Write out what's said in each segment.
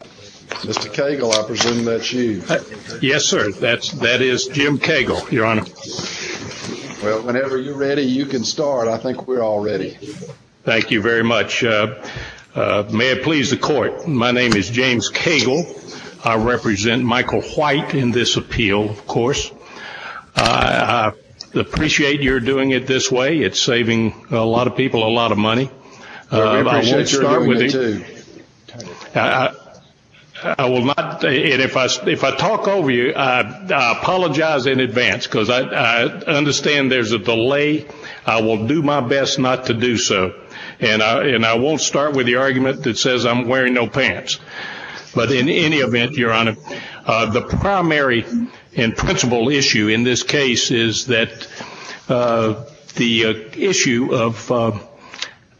Mr. Cagle, I presume that's you. Yes, sir. That is Jim Cagle, Your Honor. Well, whenever you're ready, you can start. I think we're all ready. Thank you very much. May it please the Court, my name is James Cagle. I represent Michael White in this appeal, of course. I appreciate your doing it this way. It's saving a lot of people a lot of money. I appreciate your doing it too. I will not, and if I talk over you, I apologize in advance, because I understand there's a delay. I will do my best not to do so. And I won't start with the argument that says I'm wearing no pants. But in any event, Your Honor, the primary and principal issue in this case is that the issue of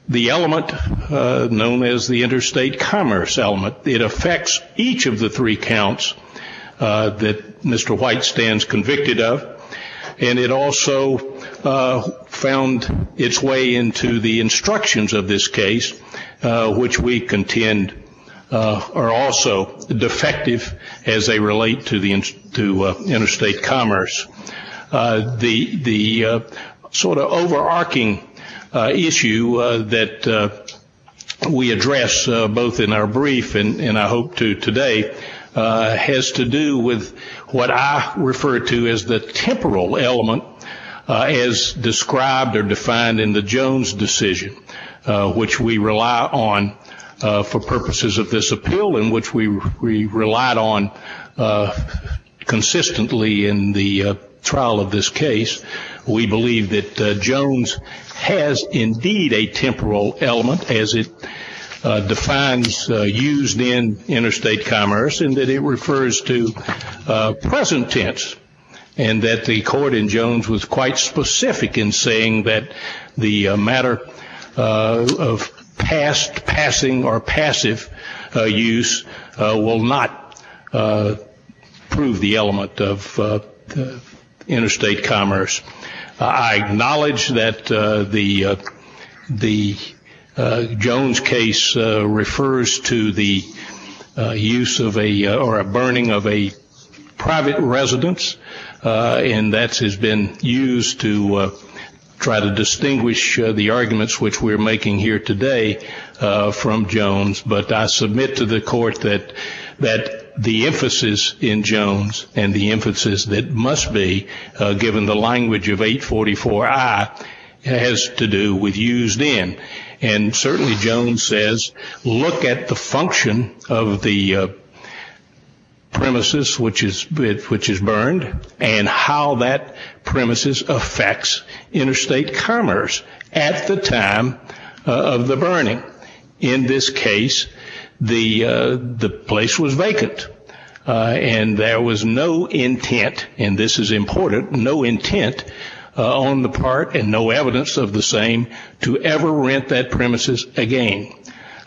the element known as the interstate commerce element, it affects each of the three counts that Mr. White stands convicted of. And it also found its way into the instructions of this case, which we contend are also defective as they relate to interstate commerce. The sort of overarching issue that we address both in our brief and I hope to today has to do with what I refer to as the temporal element, as described or defined in the Jones decision, which we rely on for purposes of this appeal and which we relied on consistently in the trial of this case. We believe that Jones has indeed a temporal element as it defines used in interstate commerce and that it refers to present tense, and that the court in Jones was quite specific in saying that the matter of past, passing, or passive use will not prove the element of interstate commerce. I acknowledge that the Jones case refers to the use of a or a burning of a private residence, and that has been used to try to distinguish the arguments which we're making here today from Jones. But I submit to the court that the emphasis in Jones and the emphasis that must be given the language of 844I has to do with used in. And certainly Jones says, look at the function of the premises which is burned and how that premises affects interstate commerce at the time of the burning. In this case, the place was vacant and there was no intent, and this is important, no intent on the part and no evidence of the same to ever rent that premises again.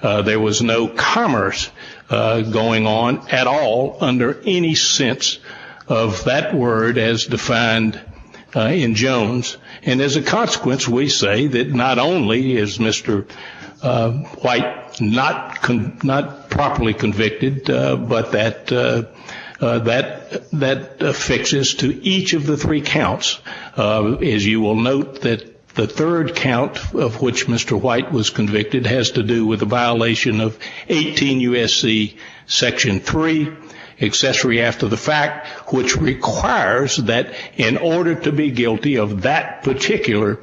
There was no commerce going on at all under any sense of that word as defined in Jones, and as a consequence we say that not only is Mr. White not properly convicted, but that affixes to each of the three counts, as you will note that the third count of which Mr. White was convicted has to do with the violation of 18 U.S.C. Section 3, accessory after the fact, which requires that in order to be guilty of that particular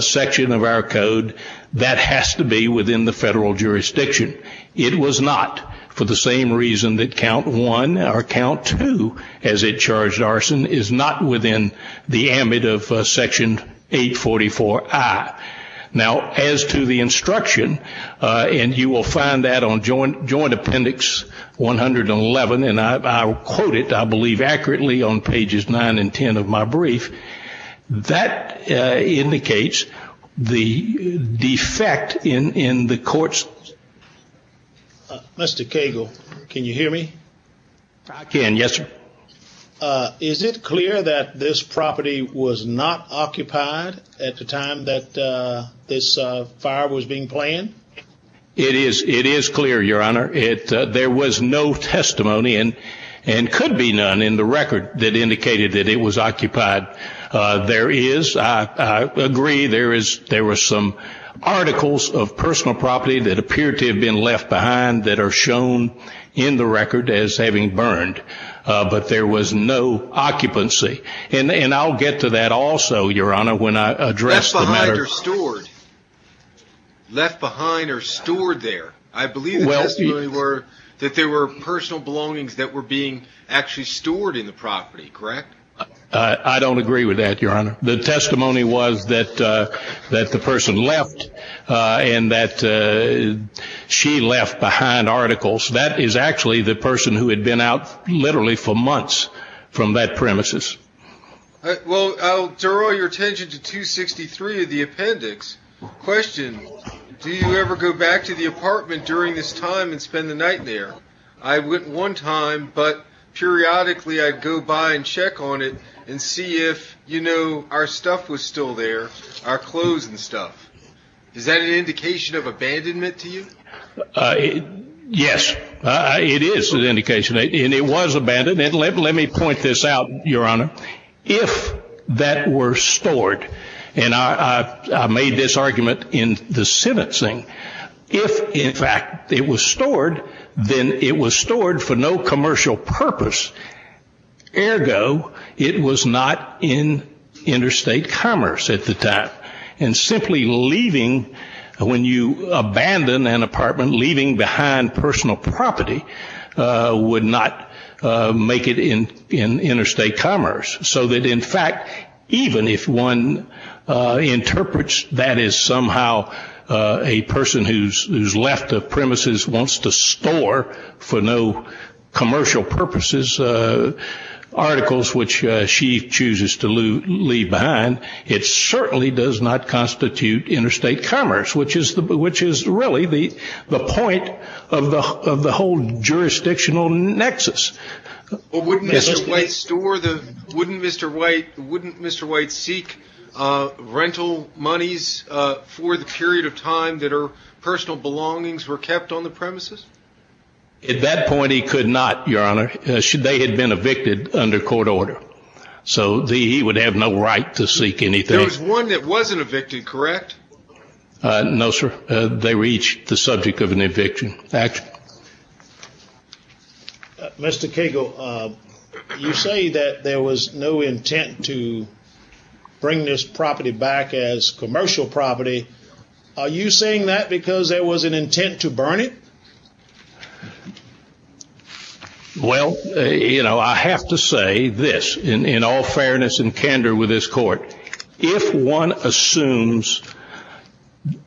section of our code, that has to be within the federal jurisdiction. It was not for the same reason that Count 1 or Count 2, as it charged arson, is not within the ambit of Section 844I. Now, as to the instruction, and you will find that on Joint Appendix 111, and I will quote it, I believe, accurately on pages 9 and 10 of my brief, that indicates the defect in the court's... Mr. Cagle, can you hear me? I can, yes, sir. Is it clear that this property was not occupied at the time that this fire was being planned? It is clear, Your Honor. There was no testimony, and could be none, in the record that indicated that it was occupied. There is, I agree, there were some articles of personal property that appeared to have been left behind that are shown in the record as having burned, but there was no occupancy. And I'll get to that also, Your Honor, when I address the matter... Left behind or stored? Left behind or stored there? I believe the testimony were that there were personal belongings that were being actually stored in the property, correct? I don't agree with that, Your Honor. The testimony was that the person left and that she left behind articles. That is actually the person who had been out literally for months from that premises. Well, I'll draw your attention to 263 of the appendix. Question, do you ever go back to the apartment during this time and spend the night there? I went one time, but periodically I'd go by and check on it and see if, you know, our stuff was still there, our clothes and stuff. Is that an indication of abandonment to you? Yes, it is an indication, and it was abandoned. And let me point this out, Your Honor. If that were stored, and I made this argument in the sentencing. If, in fact, it was stored, then it was stored for no commercial purpose. Ergo, it was not in interstate commerce at the time. And simply leaving, when you abandon an apartment, leaving behind personal property would not make it in interstate commerce. So that, in fact, even if one interprets that as somehow a person who's left the premises wants to store for no commercial purposes articles which she chooses to leave behind, it certainly does not constitute interstate commerce, which is really the point of the whole jurisdictional nexus. Wouldn't Mr. White seek rental monies for the period of time that her personal belongings were kept on the premises? At that point, he could not, Your Honor. They had been evicted under court order. So he would have no right to seek anything. There was one that wasn't evicted, correct? No, sir. They reached the subject of an eviction. Mr. Cagle, you say that there was no intent to bring this property back as commercial property. Are you saying that because there was an intent to burn it? Well, you know, I have to say this in all fairness and candor with this Court. If one assumes,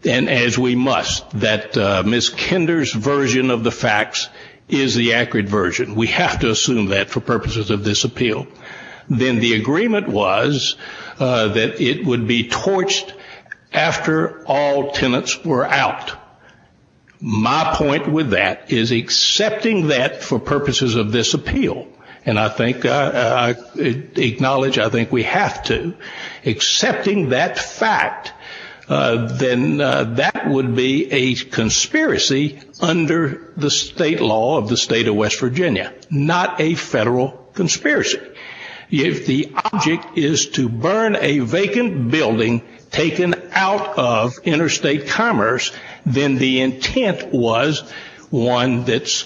and as we must, that Ms. Kinder's version of the facts is the accurate version, we have to assume that for purposes of this appeal, then the agreement was that it would be torched after all tenants were out. My point with that is accepting that for purposes of this appeal, and I acknowledge I think we have to, accepting that fact, then that would be a conspiracy under the state law of the state of West Virginia, not a federal conspiracy. If the object is to burn a vacant building taken out of interstate commerce, then the intent was one that's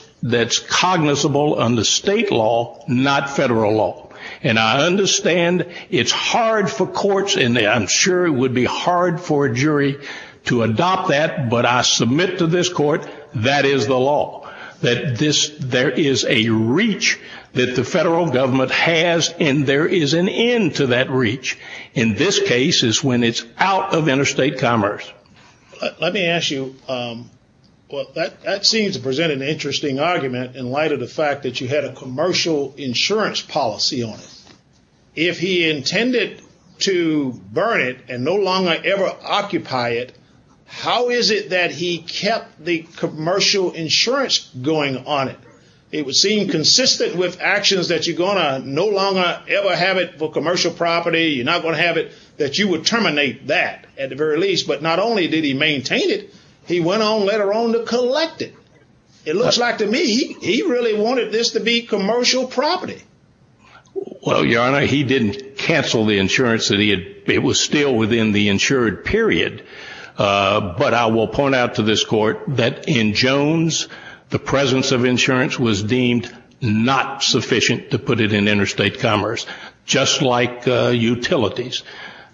cognizable under state law, not federal law. And I understand it's hard for courts, and I'm sure it would be hard for a jury to adopt that, but I submit to this Court that is the law. That there is a reach that the federal government has, and there is an end to that reach. And this case is when it's out of interstate commerce. Let me ask you, that seems to present an interesting argument in light of the fact that you had a commercial insurance policy on it. If he intended to burn it and no longer ever occupy it, how is it that he kept the commercial insurance going on it? It would seem consistent with actions that you're going to no longer ever have it for commercial property, you're not going to have it that you would terminate that at the very least. But not only did he maintain it, he went on later on to collect it. It looks like to me he really wanted this to be commercial property. Well, Your Honor, he didn't cancel the insurance. It was still within the insured period. But I will point out to this Court that in Jones, the presence of insurance was deemed not sufficient to put it in interstate commerce, just like utilities.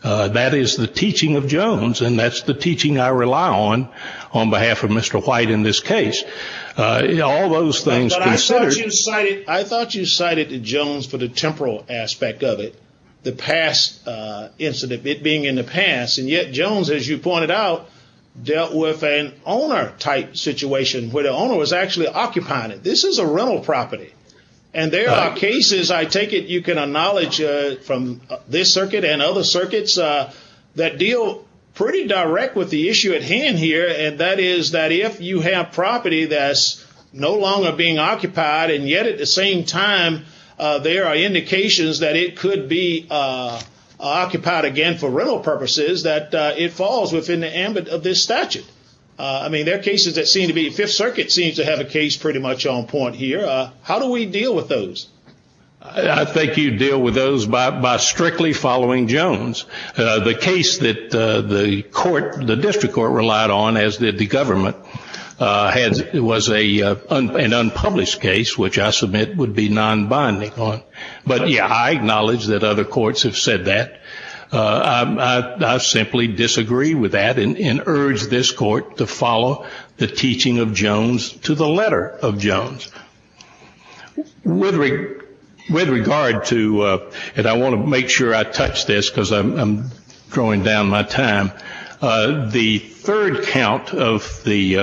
That is the teaching of Jones, and that's the teaching I rely on on behalf of Mr. White in this case. But I thought you cited Jones for the temporal aspect of it, the past incident being in the past, and yet Jones, as you pointed out, dealt with an owner-type situation where the owner was actually occupying it. This is a rental property, and there are cases, I take it you can acknowledge from this circuit and other circuits, that deal pretty direct with the issue at hand here, and that is that if you have property that's no longer being occupied, and yet at the same time there are indications that it could be occupied again for rental purposes, that it falls within the ambit of this statute. I mean, there are cases that seem to be, Fifth Circuit seems to have a case pretty much on point here. How do we deal with those? I think you deal with those by strictly following Jones. The case that the court, the district court relied on, as did the government, was an unpublished case, which I submit would be non-binding on. But, yeah, I acknowledge that other courts have said that. I simply disagree with that and urge this court to follow the teaching of Jones to the letter of Jones. With regard to, and I want to make sure I touch this because I'm drawing down my time, the third count of the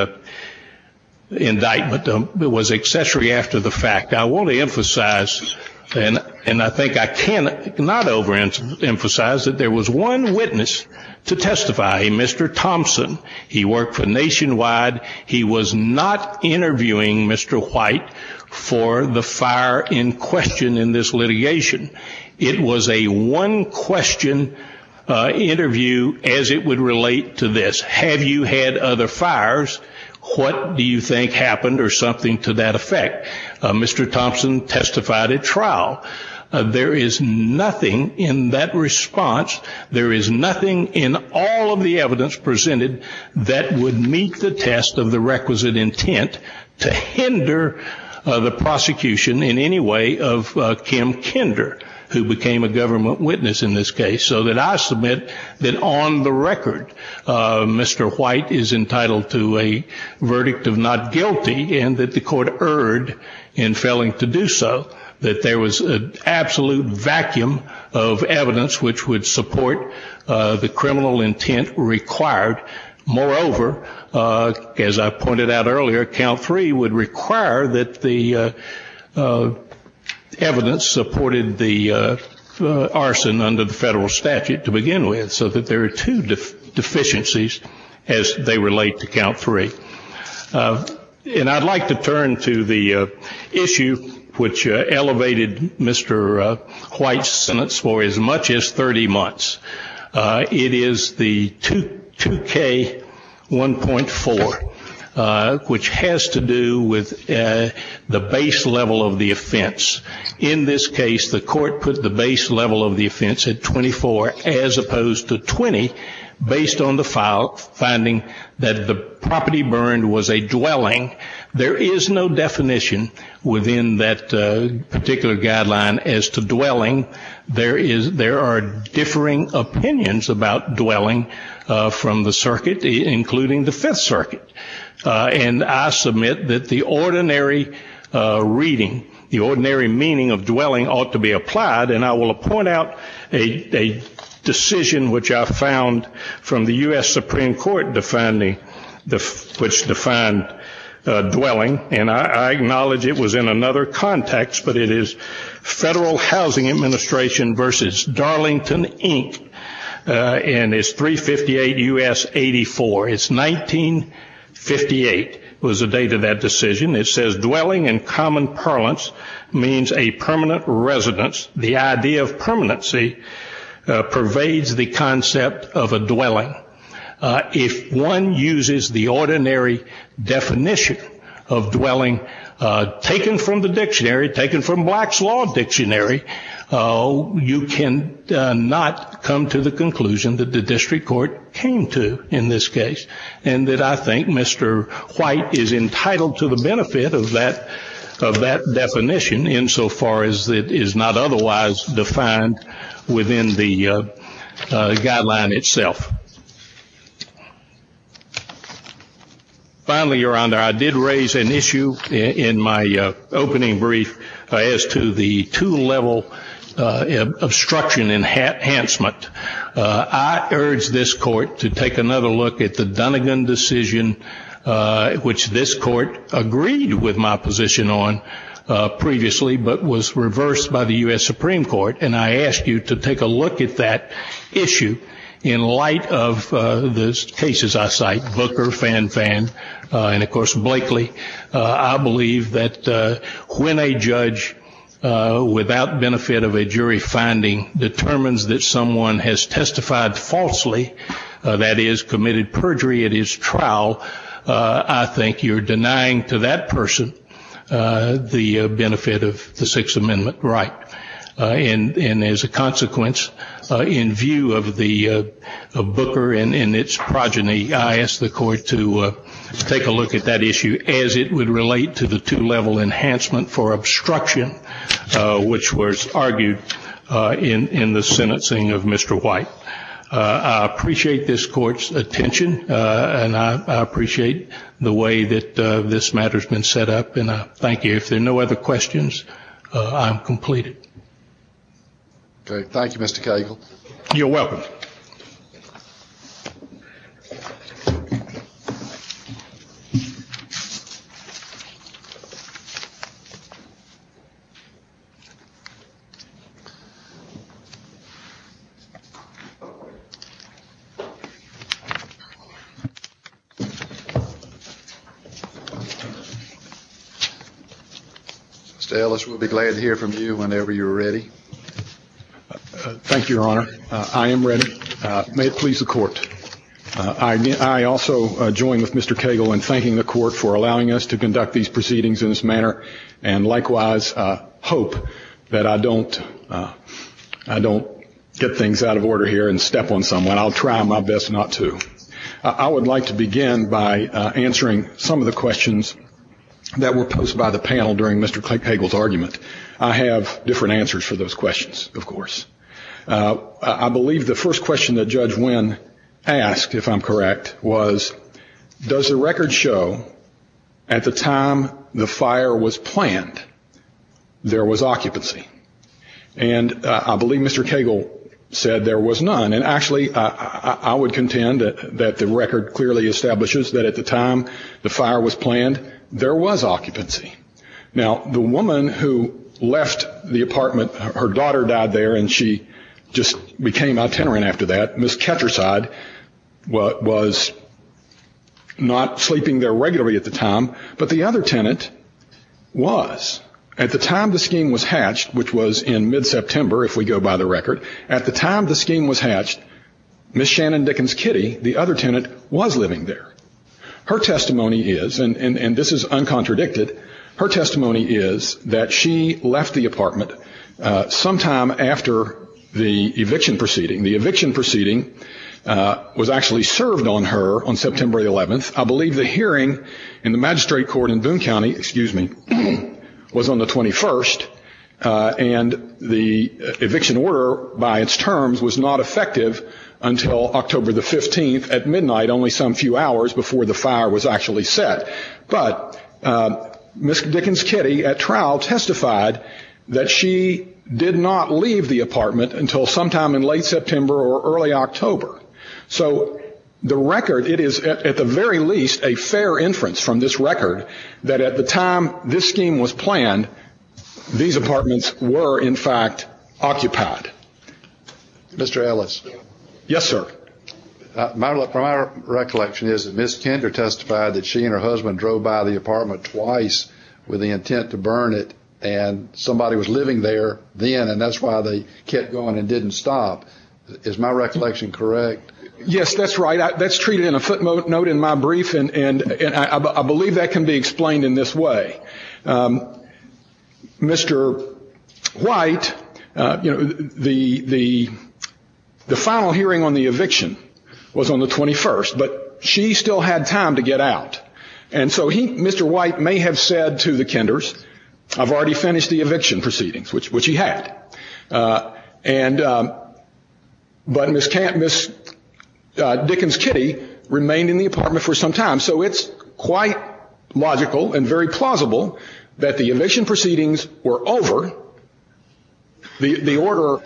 indictment was accessory after the fact. I want to emphasize, and I think I cannot overemphasize, that there was one witness to testify, Mr. Thompson. He worked for Nationwide. He was not interviewing Mr. White for the fire in question in this litigation. It was a one-question interview as it would relate to this. Have you had other fires? What do you think happened or something to that effect? Mr. Thompson testified at trial. There is nothing in that response, there is nothing in all of the evidence presented, that would meet the test of the requisite intent to hinder the prosecution in any way of Kim Kinder, who became a government witness in this case, so that I submit that on the record, Mr. White is entitled to a verdict of not guilty and that the court erred in failing to do so, that there was an absolute vacuum of evidence which would support the criminal intent required. Moreover, as I pointed out earlier, count three would require that the evidence supported the arson under the federal statute to begin with, so that there are two deficiencies as they relate to count three. And I'd like to turn to the issue which elevated Mr. White's sentence for as much as 30 months. It is the 2K1.4, which has to do with the base level of the offense. In this case, the court put the base level of the offense at 24 as opposed to 20, finding that the property burned was a dwelling. There is no definition within that particular guideline as to dwelling. There are differing opinions about dwelling from the circuit, including the Fifth Circuit. And I submit that the ordinary reading, the ordinary meaning of dwelling ought to be applied, and I will point out a decision which I found from the U.S. Supreme Court which defined dwelling, and I acknowledge it was in another context, but it is Federal Housing Administration v. Darlington, Inc., and it's 358 U.S. 84. It's 1958 was the date of that decision. It says dwelling in common parlance means a permanent residence. The idea of permanency pervades the concept of a dwelling. If one uses the ordinary definition of dwelling taken from the dictionary, taken from Black's Law Dictionary, you cannot come to the conclusion that the district court came to in this case and that I think Mr. White is entitled to the benefit of that definition insofar as it is not otherwise defined within the guideline itself. Finally, Your Honor, I did raise an issue in my opening brief as to the two-level obstruction enhancement. I urge this Court to take another look at the Dunnegan decision which this Court agreed with my position on previously but was reversed by the U.S. Supreme Court, and I ask you to take a look at that issue in light of the cases I cite, Booker, Fan Fan, and of course Blakely. I believe that when a judge without benefit of a jury finding determines that someone has testified falsely, that is committed perjury at his trial, I think you're denying to that person the benefit of the Sixth Amendment right. And as a consequence, in view of Booker and its progeny, I ask the Court to take a look at that issue as it would relate to the two-level enhancement for obstruction which was argued in the sentencing of Mr. White. I appreciate this Court's attention, and I appreciate the way that this matter has been set up, and I thank you. If there are no other questions, I am completed. Okay. Thank you, Mr. Cagle. You're welcome. Mr. Ellis, we'll be glad to hear from you whenever you're ready. Thank you, Your Honor. I am ready. May it please the Court. I also join with Mr. Cagle in thanking the Court for allowing us to conduct these proceedings in this manner and likewise hope that I don't get things out of order here and step on someone. I'll try my best not to. I would like to begin by answering some of the questions that were posed by the panel during Mr. Cagle's argument. I have different answers for those questions, of course. I believe the first question that Judge Wynn asked, if I'm correct, was, does the record show at the time the fire was planned there was occupancy? And I believe Mr. Cagle said there was none. And actually, I would contend that the record clearly establishes that at the time the fire was planned there was occupancy. Now, the woman who left the apartment, her daughter died there and she just became itinerant after that, Ms. Ketcherside, was not sleeping there regularly at the time. But the other tenant was. At the time the scheme was hatched, which was in mid-September if we go by the record, at the time the scheme was hatched, Ms. Shannon Dickens Kitty, the other tenant, was living there. Her testimony is, and this is uncontradicted, her testimony is that she left the apartment sometime after the eviction proceeding. The eviction proceeding was actually served on her on September 11th. I believe the hearing in the magistrate court in Boone County, excuse me, was on the 21st. And the eviction order by its terms was not effective until October the 15th at midnight, only some few hours before the fire was actually set. But Ms. Dickens Kitty at trial testified that she did not leave the apartment until sometime in late September or early October. So the record, it is at the very least a fair inference from this record that at the time this scheme was planned, these apartments were, in fact, occupied. Mr. Ellis. Yes, sir. My recollection is that Ms. Kinder testified that she and her husband drove by the apartment twice with the intent to burn it, and somebody was living there then, and that's why they kept going and didn't stop. Is my recollection correct? Yes, that's right. That's treated in a footnote in my brief, and I believe that can be explained in this way. Mr. White, the final hearing on the eviction was on the 21st, but she still had time to get out. And so he, Mr. White, may have said to the Kinders, I've already finished the eviction proceedings, which he had. But Ms. Dickens Kitty remained in the apartment for some time. So it's quite logical and very plausible that the eviction proceedings were over. The order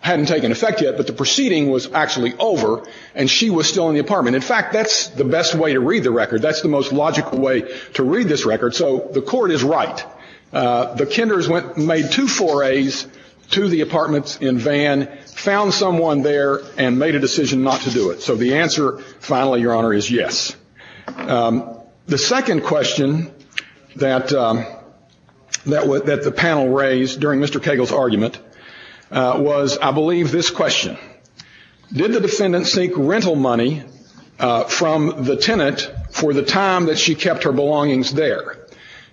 hadn't taken effect yet, but the proceeding was actually over, and she was still in the apartment. In fact, that's the best way to read the record. That's the most logical way to read this record. So the court is right. The Kinders made two forays to the apartments in Vann, found someone there, and made a decision not to do it. So the answer, finally, Your Honor, is yes. The second question that the panel raised during Mr. Cagle's argument was, I believe, this question. Did the defendant seek rental money from the tenant for the time that she kept her belongings there?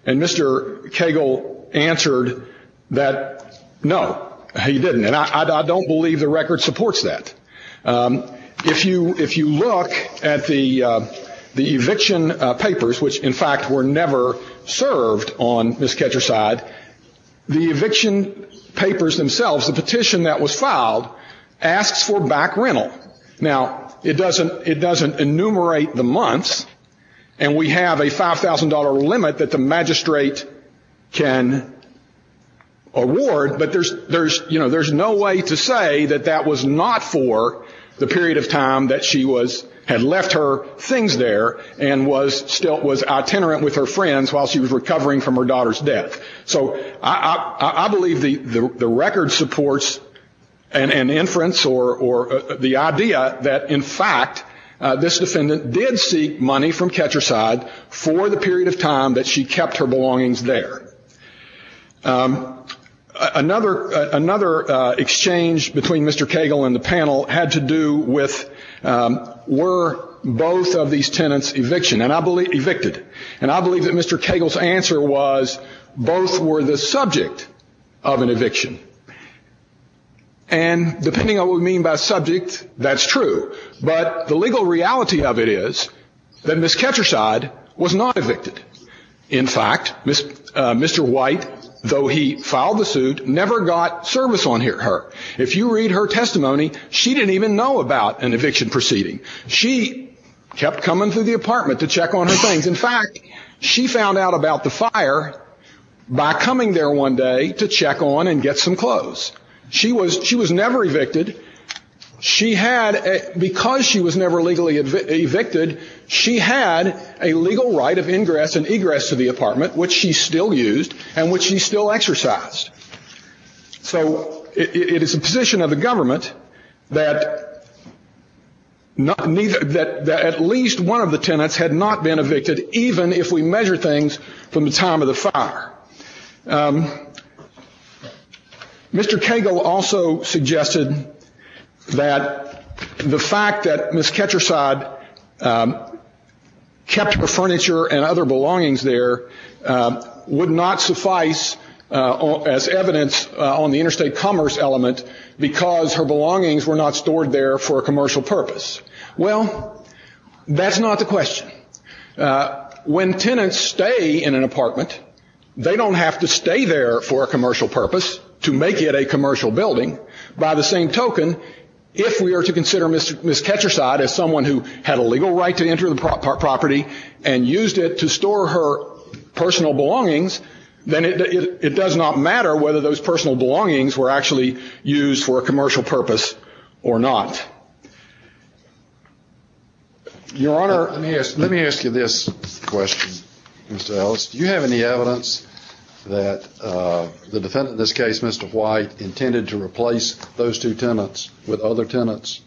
And Mr. Cagle answered that no, he didn't. And I don't believe the record supports that. If you look at the eviction papers, which, in fact, were never served on Ms. Ketcher's side, the eviction papers themselves, the petition that was filed, asks for back rental. Now, it doesn't enumerate the months, and we have a $5,000 limit that the magistrate can award, but there's no way to say that that was not for the period of time that she had left her things there and was itinerant with her friends while she was recovering from her daughter's death. So I believe the record supports an inference or the idea that, in fact, this defendant did seek money from Ketcher's side for the period of time that she kept her belongings there. Another exchange between Mr. Cagle and the panel had to do with were both of these tenants evicted? And I believe that Mr. Cagle's answer was both were the subject of an eviction. And depending on what we mean by subject, that's true. But the legal reality of it is that Ms. Ketcher's side was not evicted. In fact, Mr. White, though he filed the suit, never got service on her. If you read her testimony, she didn't even know about an eviction proceeding. She kept coming to the apartment to check on her things. In fact, she found out about the fire by coming there one day to check on and get some clothes. She was never evicted. Because she was never legally evicted, she had a legal right of ingress and egress to the apartment, which she still used and which she still exercised. So it is the position of the government that at least one of the tenants had not been evicted, even if we measure things from the time of the fire. Mr. Cagle also suggested that the fact that Ms. Ketcher's side kept her furniture and other belongings there would not suffice as evidence on the interstate commerce element because her belongings were not stored there for a commercial purpose. Well, that's not the question. When tenants stay in an apartment, they don't have to stay there for a commercial purpose to make it a commercial building. By the same token, if we are to consider Ms. Ketcher's side as someone who had a legal right to enter the property and used it to store her personal belongings, then it does not matter whether those personal belongings were actually used for a commercial purpose or not. Your Honor, let me ask you this question, Mr. Ellis. Do you have any evidence that the defendant in this case, Mr. White, intended to replace those two tenants with other tenants?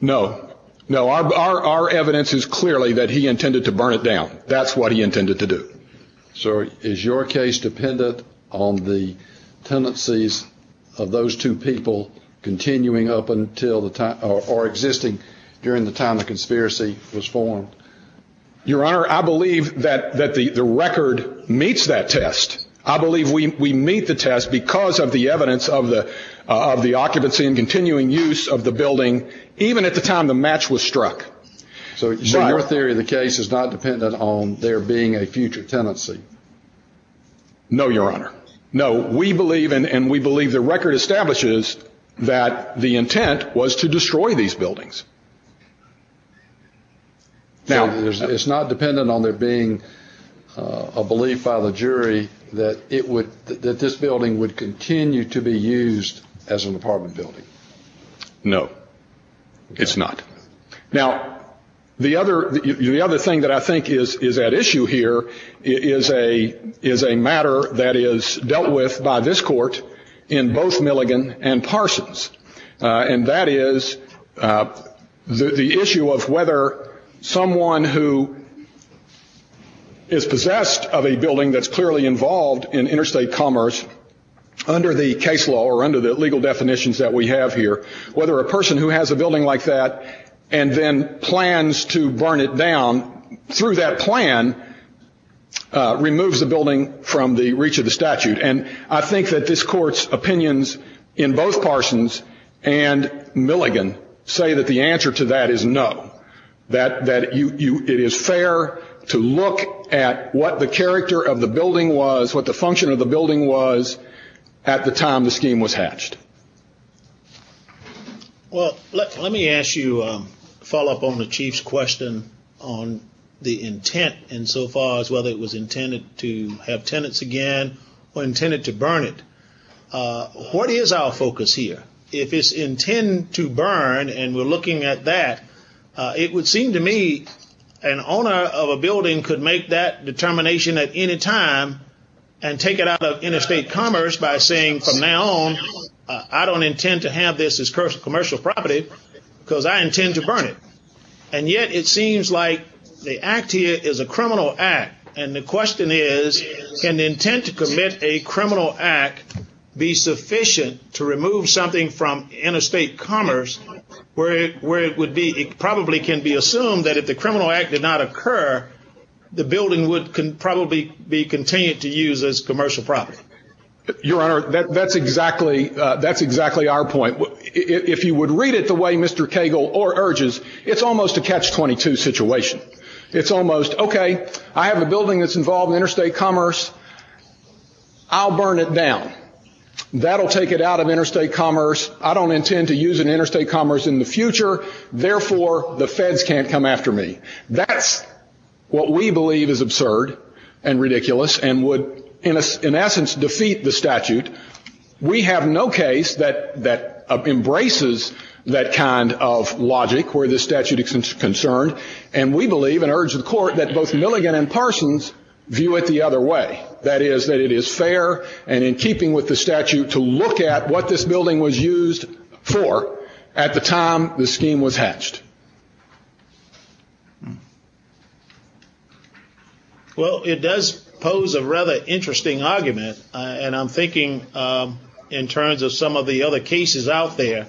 No, no. Our evidence is clearly that he intended to burn it down. That's what he intended to do. So is your case dependent on the tendencies of those two people continuing up until the time or existing during the time the conspiracy was formed? Your Honor, I believe that the record meets that test. I believe we meet the test because of the evidence of the occupancy and continuing use of the building even at the time the match was struck. So your theory of the case is not dependent on there being a future tenancy? No, Your Honor. No. And we believe the record establishes that the intent was to destroy these buildings. So it's not dependent on there being a belief by the jury that this building would continue to be used as an apartment building? No, it's not. Now, the other thing that I think is at issue here is a matter that is dealt with by this court in both Milligan and Parsons, and that is the issue of whether someone who is possessed of a building that's clearly involved in interstate commerce under the case law or under the legal definitions that we have here, whether a person who has a building like that and then plans to burn it down through that plan removes the building from the reach of the statute. And I think that this court's opinions in both Parsons and Milligan say that the answer to that is no, that it is fair to look at what the character of the building was, what the function of the building was at the time the scheme was hatched. Well, let me ask you a follow-up on the Chief's question on the intent insofar as whether it was intended to have tenants again or intended to burn it. What is our focus here? If it's intended to burn, and we're looking at that, it would seem to me an owner of a building could make that determination at any time and take it out of interstate commerce by saying from now on I don't intend to have this as commercial property because I intend to burn it. And yet it seems like the act here is a criminal act. And the question is can the intent to commit a criminal act be sufficient to remove something from interstate commerce where it would be it probably can be assumed that if the criminal act did not occur, the building would probably be continued to use as commercial property. Your Honor, that's exactly our point. If you would read it the way Mr. Cagle urges, it's almost a catch-22 situation. It's almost, okay, I have a building that's involved in interstate commerce. I'll burn it down. That'll take it out of interstate commerce. I don't intend to use it in interstate commerce in the future. Therefore, the feds can't come after me. That's what we believe is absurd and ridiculous and would in essence defeat the statute. We have no case that embraces that kind of logic where the statute is concerned. And we believe and urge the court that both Milligan and Parsons view it the other way. That is that it is fair and in keeping with the statute to look at what this building was used for at the time the scheme was hatched. Well, it does pose a rather interesting argument. And I'm thinking in terms of some of the other cases out there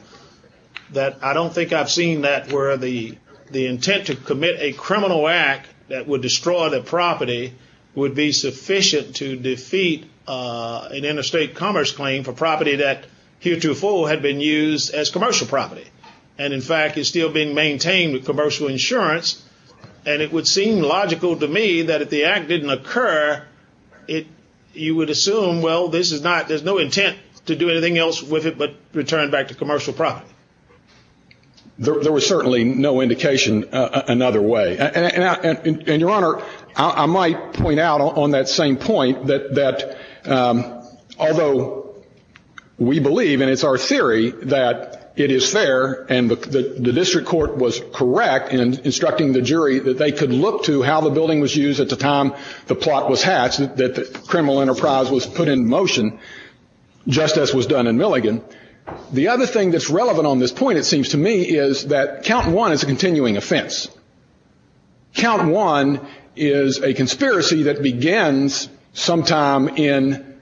that I don't think I've seen that where the intent to commit a criminal act that would destroy the property would be sufficient to defeat an interstate commerce claim for property that heretofore had been used as commercial property. And, in fact, is still being maintained with commercial insurance. And it would seem logical to me that if the act didn't occur, you would assume, well, there's no intent to do anything else with it but return back to commercial property. There was certainly no indication another way. And, Your Honor, I might point out on that same point that although we believe and it's our theory that it is fair and the district court was correct in instructing the jury that they could look to how the building was used at the time the plot was hatched, that the criminal enterprise was put in motion just as was done in Milligan. The other thing that's relevant on this point, it seems to me, is that count one is a continuing offense. Count one is a conspiracy that begins sometime in,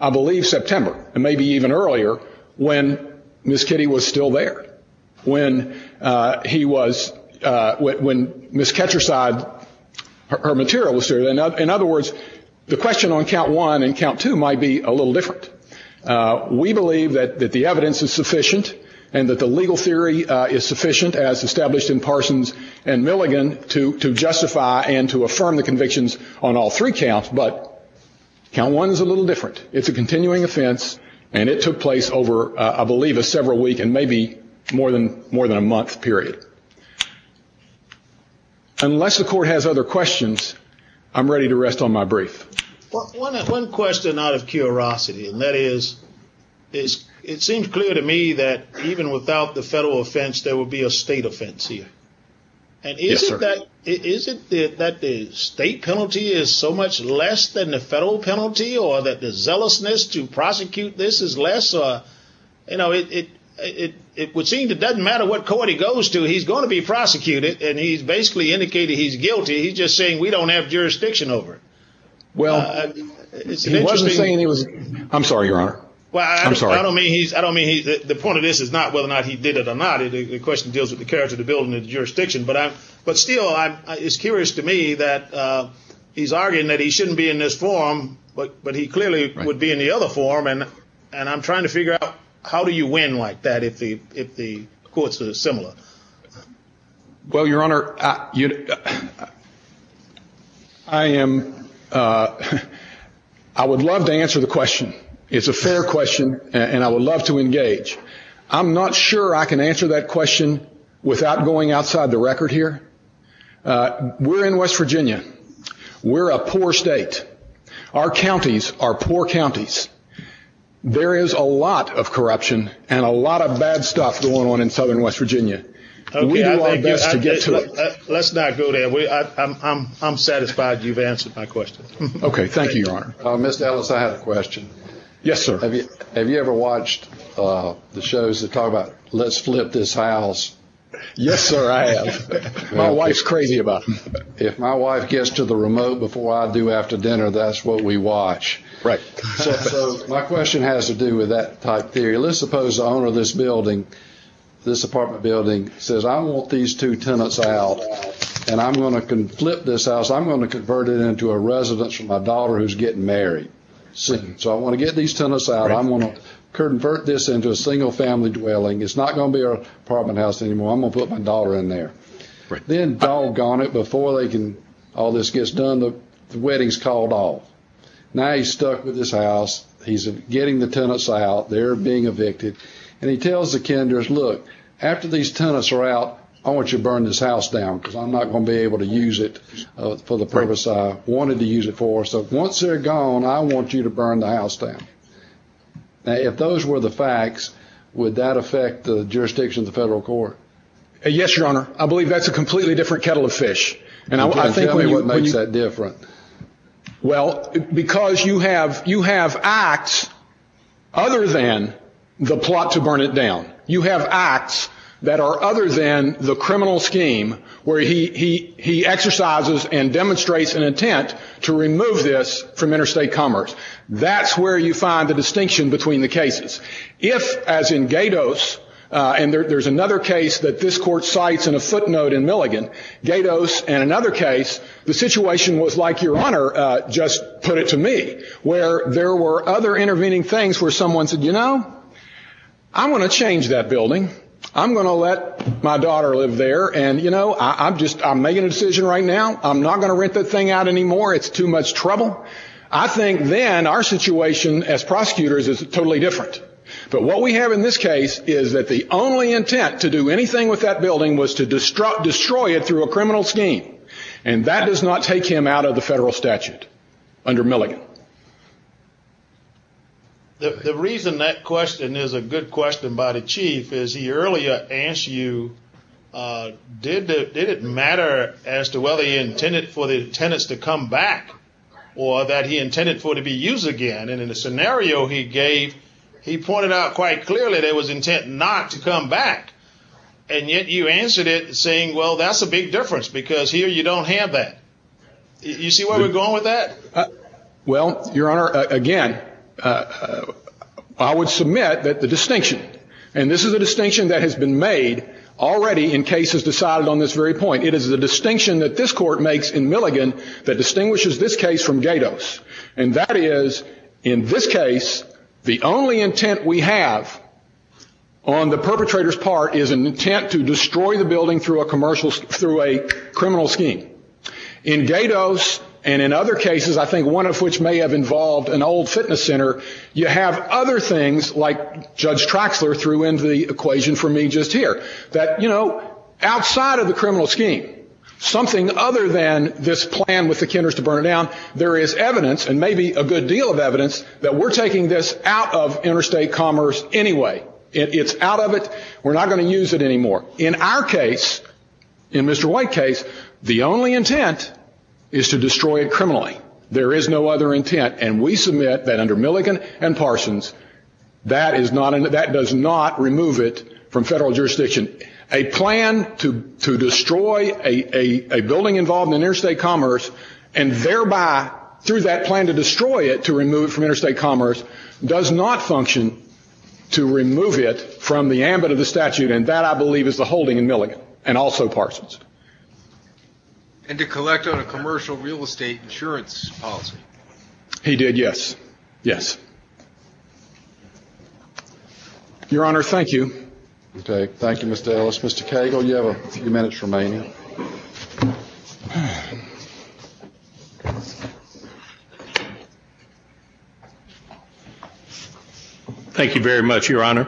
I believe, September and maybe even earlier when Miss Kitty was still there, when Miss Ketcherside, her material was still there. In other words, the question on count one and count two might be a little different. We believe that the evidence is sufficient and that the legal theory is sufficient as established in Parsons and Milligan to justify and to affirm the convictions on all three counts, but count one is a little different. It's a continuing offense and it took place over, I believe, a several week and maybe more than a month period. Unless the court has other questions, I'm ready to rest on my brief. One question out of curiosity, and that is, it seems clear to me that even without the federal offense, there would be a state offense here. Yes, sir. Is it that the state penalty is so much less than the federal penalty or that the zealousness to prosecute this is less? It would seem it doesn't matter what court he goes to, he's going to be prosecuted and he's basically indicating he's guilty. He's just saying we don't have jurisdiction over it. I'm sorry, Your Honor. I don't mean the point of this is not whether or not he did it or not. The question deals with the character of the building and the jurisdiction. But still, it's curious to me that he's arguing that he shouldn't be in this forum, but he clearly would be in the other forum. And I'm trying to figure out how do you win like that if the courts are similar? Well, Your Honor, I am. I would love to answer the question. It's a fair question and I would love to engage. I'm not sure I can answer that question without going outside the record here. We're in West Virginia. We're a poor state. Our counties are poor counties. There is a lot of corruption and a lot of bad stuff going on in southern West Virginia. We do our best to get to it. Let's not go there. I'm satisfied you've answered my question. Okay. Thank you, Your Honor. Mr. Ellis, I have a question. Yes, sir. Have you ever watched the shows that talk about let's flip this house? Yes, sir, I have. My wife's crazy about them. If my wife gets to the remote before I do after dinner, that's what we watch. Right. So my question has to do with that type of theory. Let's suppose the owner of this building, this apartment building, says, I want these two tenants out and I'm going to flip this house. I'm going to convert it into a residence for my daughter who's getting married soon. So I want to get these tenants out. I'm going to convert this into a single-family dwelling. It's not going to be our apartment house anymore. I'm going to put my daughter in there. Then, doggone it, before all this gets done, the wedding's called off. Now he's stuck with this house. He's getting the tenants out. They're being evicted. And he tells the Kenders, look, after these tenants are out, I want you to burn this house down because I'm not going to be able to use it for the purpose I wanted to use it for. So once they're gone, I want you to burn the house down. Now, if those were the facts, would that affect the jurisdiction of the federal court? Yes, Your Honor. I believe that's a completely different kettle of fish. Tell me what makes that different. Well, because you have acts other than the plot to burn it down. You have acts that are other than the criminal scheme where he exercises and demonstrates an intent to remove this from interstate commerce. That's where you find the distinction between the cases. If, as in Gatos, and there's another case that this court cites in a footnote in Milligan, Gatos and another case, the situation was like Your Honor just put it to me, where there were other intervening things where someone said, you know, I'm going to change that building. I'm going to let my daughter live there. And, you know, I'm just making a decision right now. I'm not going to rent that thing out anymore. It's too much trouble. I think then our situation as prosecutors is totally different. But what we have in this case is that the only intent to do anything with that building was to destroy it through a criminal scheme. And that does not take him out of the federal statute under Milligan. The reason that question is a good question by the chief is he earlier asked you, did it matter as to whether he intended for the tenants to come back or that he intended for it to be used again? And in the scenario he gave, he pointed out quite clearly there was intent not to come back. And yet you answered it saying, well, that's a big difference because here you don't have that. You see where we're going with that? Well, Your Honor, again, I would submit that the distinction and this is a distinction that has been made already in cases decided on this very point. It is the distinction that this court makes in Milligan that distinguishes this case from Gatos. And that is, in this case, the only intent we have on the perpetrator's part is an intent to destroy the building through a criminal scheme. In Gatos and in other cases, I think one of which may have involved an old fitness center, you have other things like Judge Traxler threw into the equation for me just here, that, you know, outside of the criminal scheme, something other than this plan with the Kenders to burn it down, there is evidence, and maybe a good deal of evidence, that we're taking this out of interstate commerce anyway. It's out of it. We're not going to use it anymore. In our case, in Mr. White's case, the only intent is to destroy it criminally. There is no other intent. And we submit that under Milligan and Parsons, that does not remove it from federal jurisdiction. A plan to destroy a building involved in interstate commerce and thereby, through that plan to destroy it, to remove it from interstate commerce does not function to remove it from the ambit of the statute. And that, I believe, is the holding in Milligan and also Parsons. And to collect on a commercial real estate insurance policy. He did, yes. Yes. Your Honor, thank you. Okay. Thank you, Mr. Ellis. Mr. Cagle, you have a few minutes remaining. Thank you very much, Your Honor.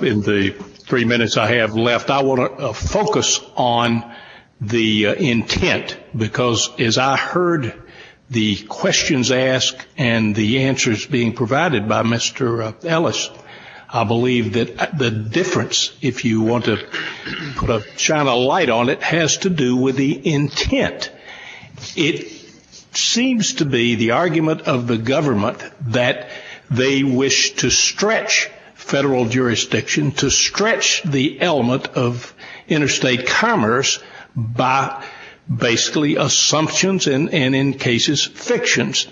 In the three minutes I have left, I want to focus on the intent. Because as I heard the questions asked and the answers being provided by Mr. Ellis, I believe that the difference, if you want to shine a light on it, has to do with the intent. It seems to be the argument of the government that they wish to stretch federal jurisdiction, to stretch the element of interstate commerce by basically assumptions and, in cases, fictions.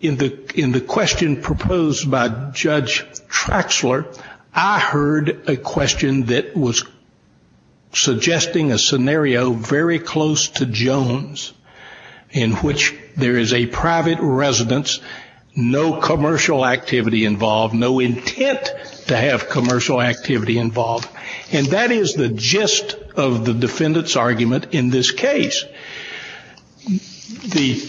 In the question proposed by Judge Trexler, I heard a question that was suggesting a scenario very close to Jones, in which there is a private residence, no commercial activity involved, no intent to have commercial activity involved. And that is the gist of the defendant's argument in this case. The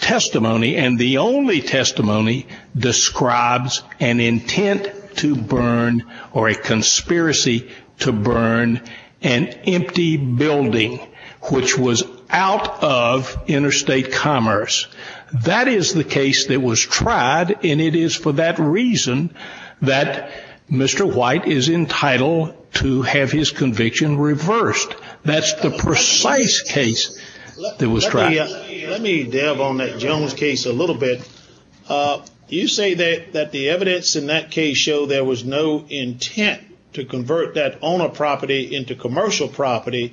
testimony, and the only testimony, describes an intent to burn or a conspiracy to burn an empty building, which was out of interstate commerce. That is the case that was tried, and it is for that reason that Mr. White is entitled to have his conviction reversed. That is the precise case that was tried. Let me delve on that Jones case a little bit. You say that the evidence in that case showed there was no intent to convert that owner property into commercial property,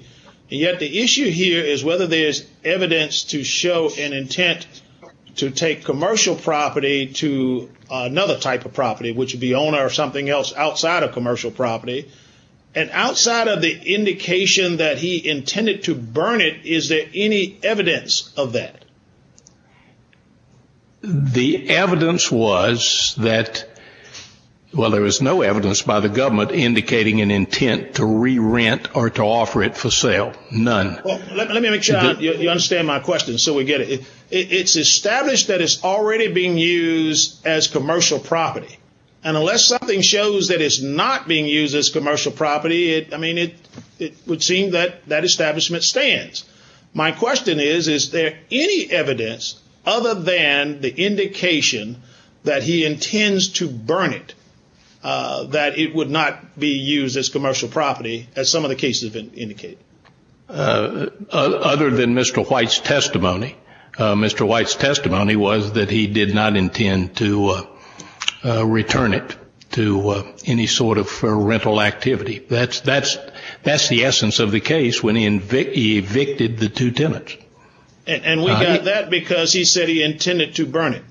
and yet the issue here is whether there is evidence to show an intent to take commercial property to another type of property, which would be owner or something else outside of commercial property. And outside of the indication that he intended to burn it, is there any evidence of that? The evidence was that, well, there was no evidence by the government indicating an intent to re-rent or to offer it for sale. None. Let me make sure you understand my question so we get it. It's established that it's already being used as commercial property. And unless something shows that it's not being used as commercial property, I mean, it would seem that that establishment stands. My question is, is there any evidence other than the indication that he intends to burn it that it would not be used as commercial property, as some of the cases have indicated? Other than Mr. White's testimony. Mr. White's testimony was that he did not intend to return it to any sort of rental activity. That's the essence of the case when he evicted the two tenants. And we got that because he said he intended to burn it.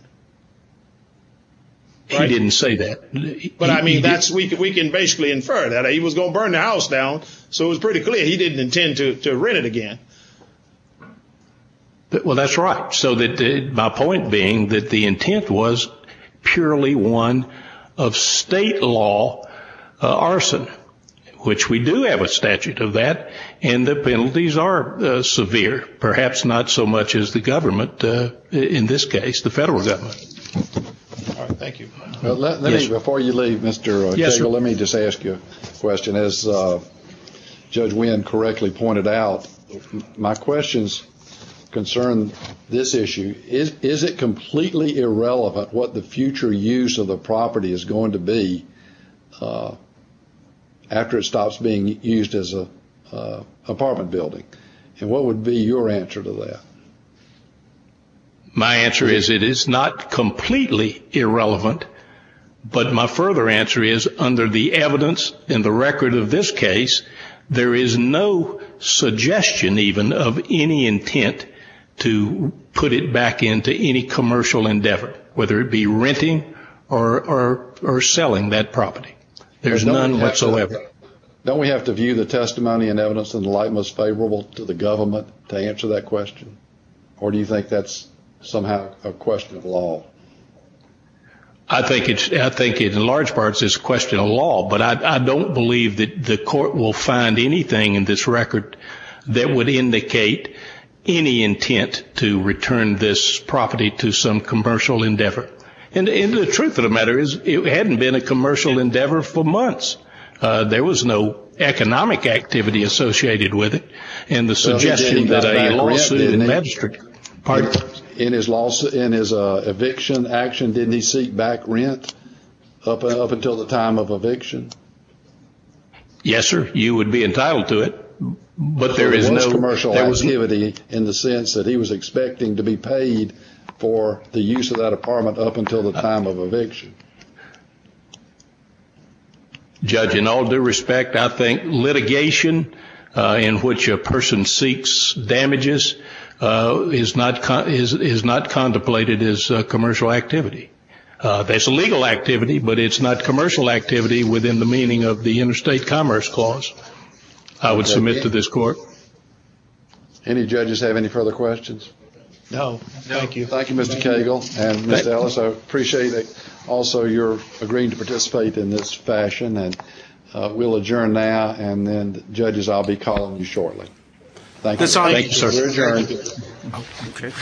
He didn't say that. But, I mean, we can basically infer that. He was going to burn the house down, so it was pretty clear he didn't intend to rent it again. Well, that's right. So my point being that the intent was purely one of state law arson, which we do have a statute of that, and the penalties are severe, perhaps not so much as the government, in this case the federal government. Thank you. Before you leave, Mr. Tegel, let me just ask you a question. As Judge Wynn correctly pointed out, my questions concern this issue. Is it completely irrelevant what the future use of the property is going to be after it stops being used as an apartment building? And what would be your answer to that? My answer is it is not completely irrelevant, but my further answer is under the evidence and the record of this case, there is no suggestion even of any intent to put it back into any commercial endeavor, whether it be renting or selling that property. There's none whatsoever. Don't we have to view the testimony and evidence in the light most favorable to the government to answer that question? Or do you think that's somehow a question of law? I think in large parts it's a question of law, but I don't believe that the court will find anything in this record that would indicate any intent to return this property to some commercial endeavor. And the truth of the matter is it hadn't been a commercial endeavor for months. There was no economic activity associated with it. In his eviction action, didn't he seek back rent up until the time of eviction? Yes, sir, you would be entitled to it. But there is no commercial activity in the sense that he was expecting to be paid for the use of that apartment up until the time of eviction. Judge, in all due respect, I think litigation in which a person seeks damages is not contemplated as commercial activity. That's a legal activity, but it's not commercial activity within the meaning of the interstate commerce clause I would submit to this court. Any judges have any further questions? No. Thank you. Thank you, Mr. Cagle and Ms. Ellis. I appreciate also your agreeing to participate in this fashion. And we'll adjourn now, and then, judges, I'll be calling you shortly. Thank you. Thank you, sir. We're adjourned. Okay.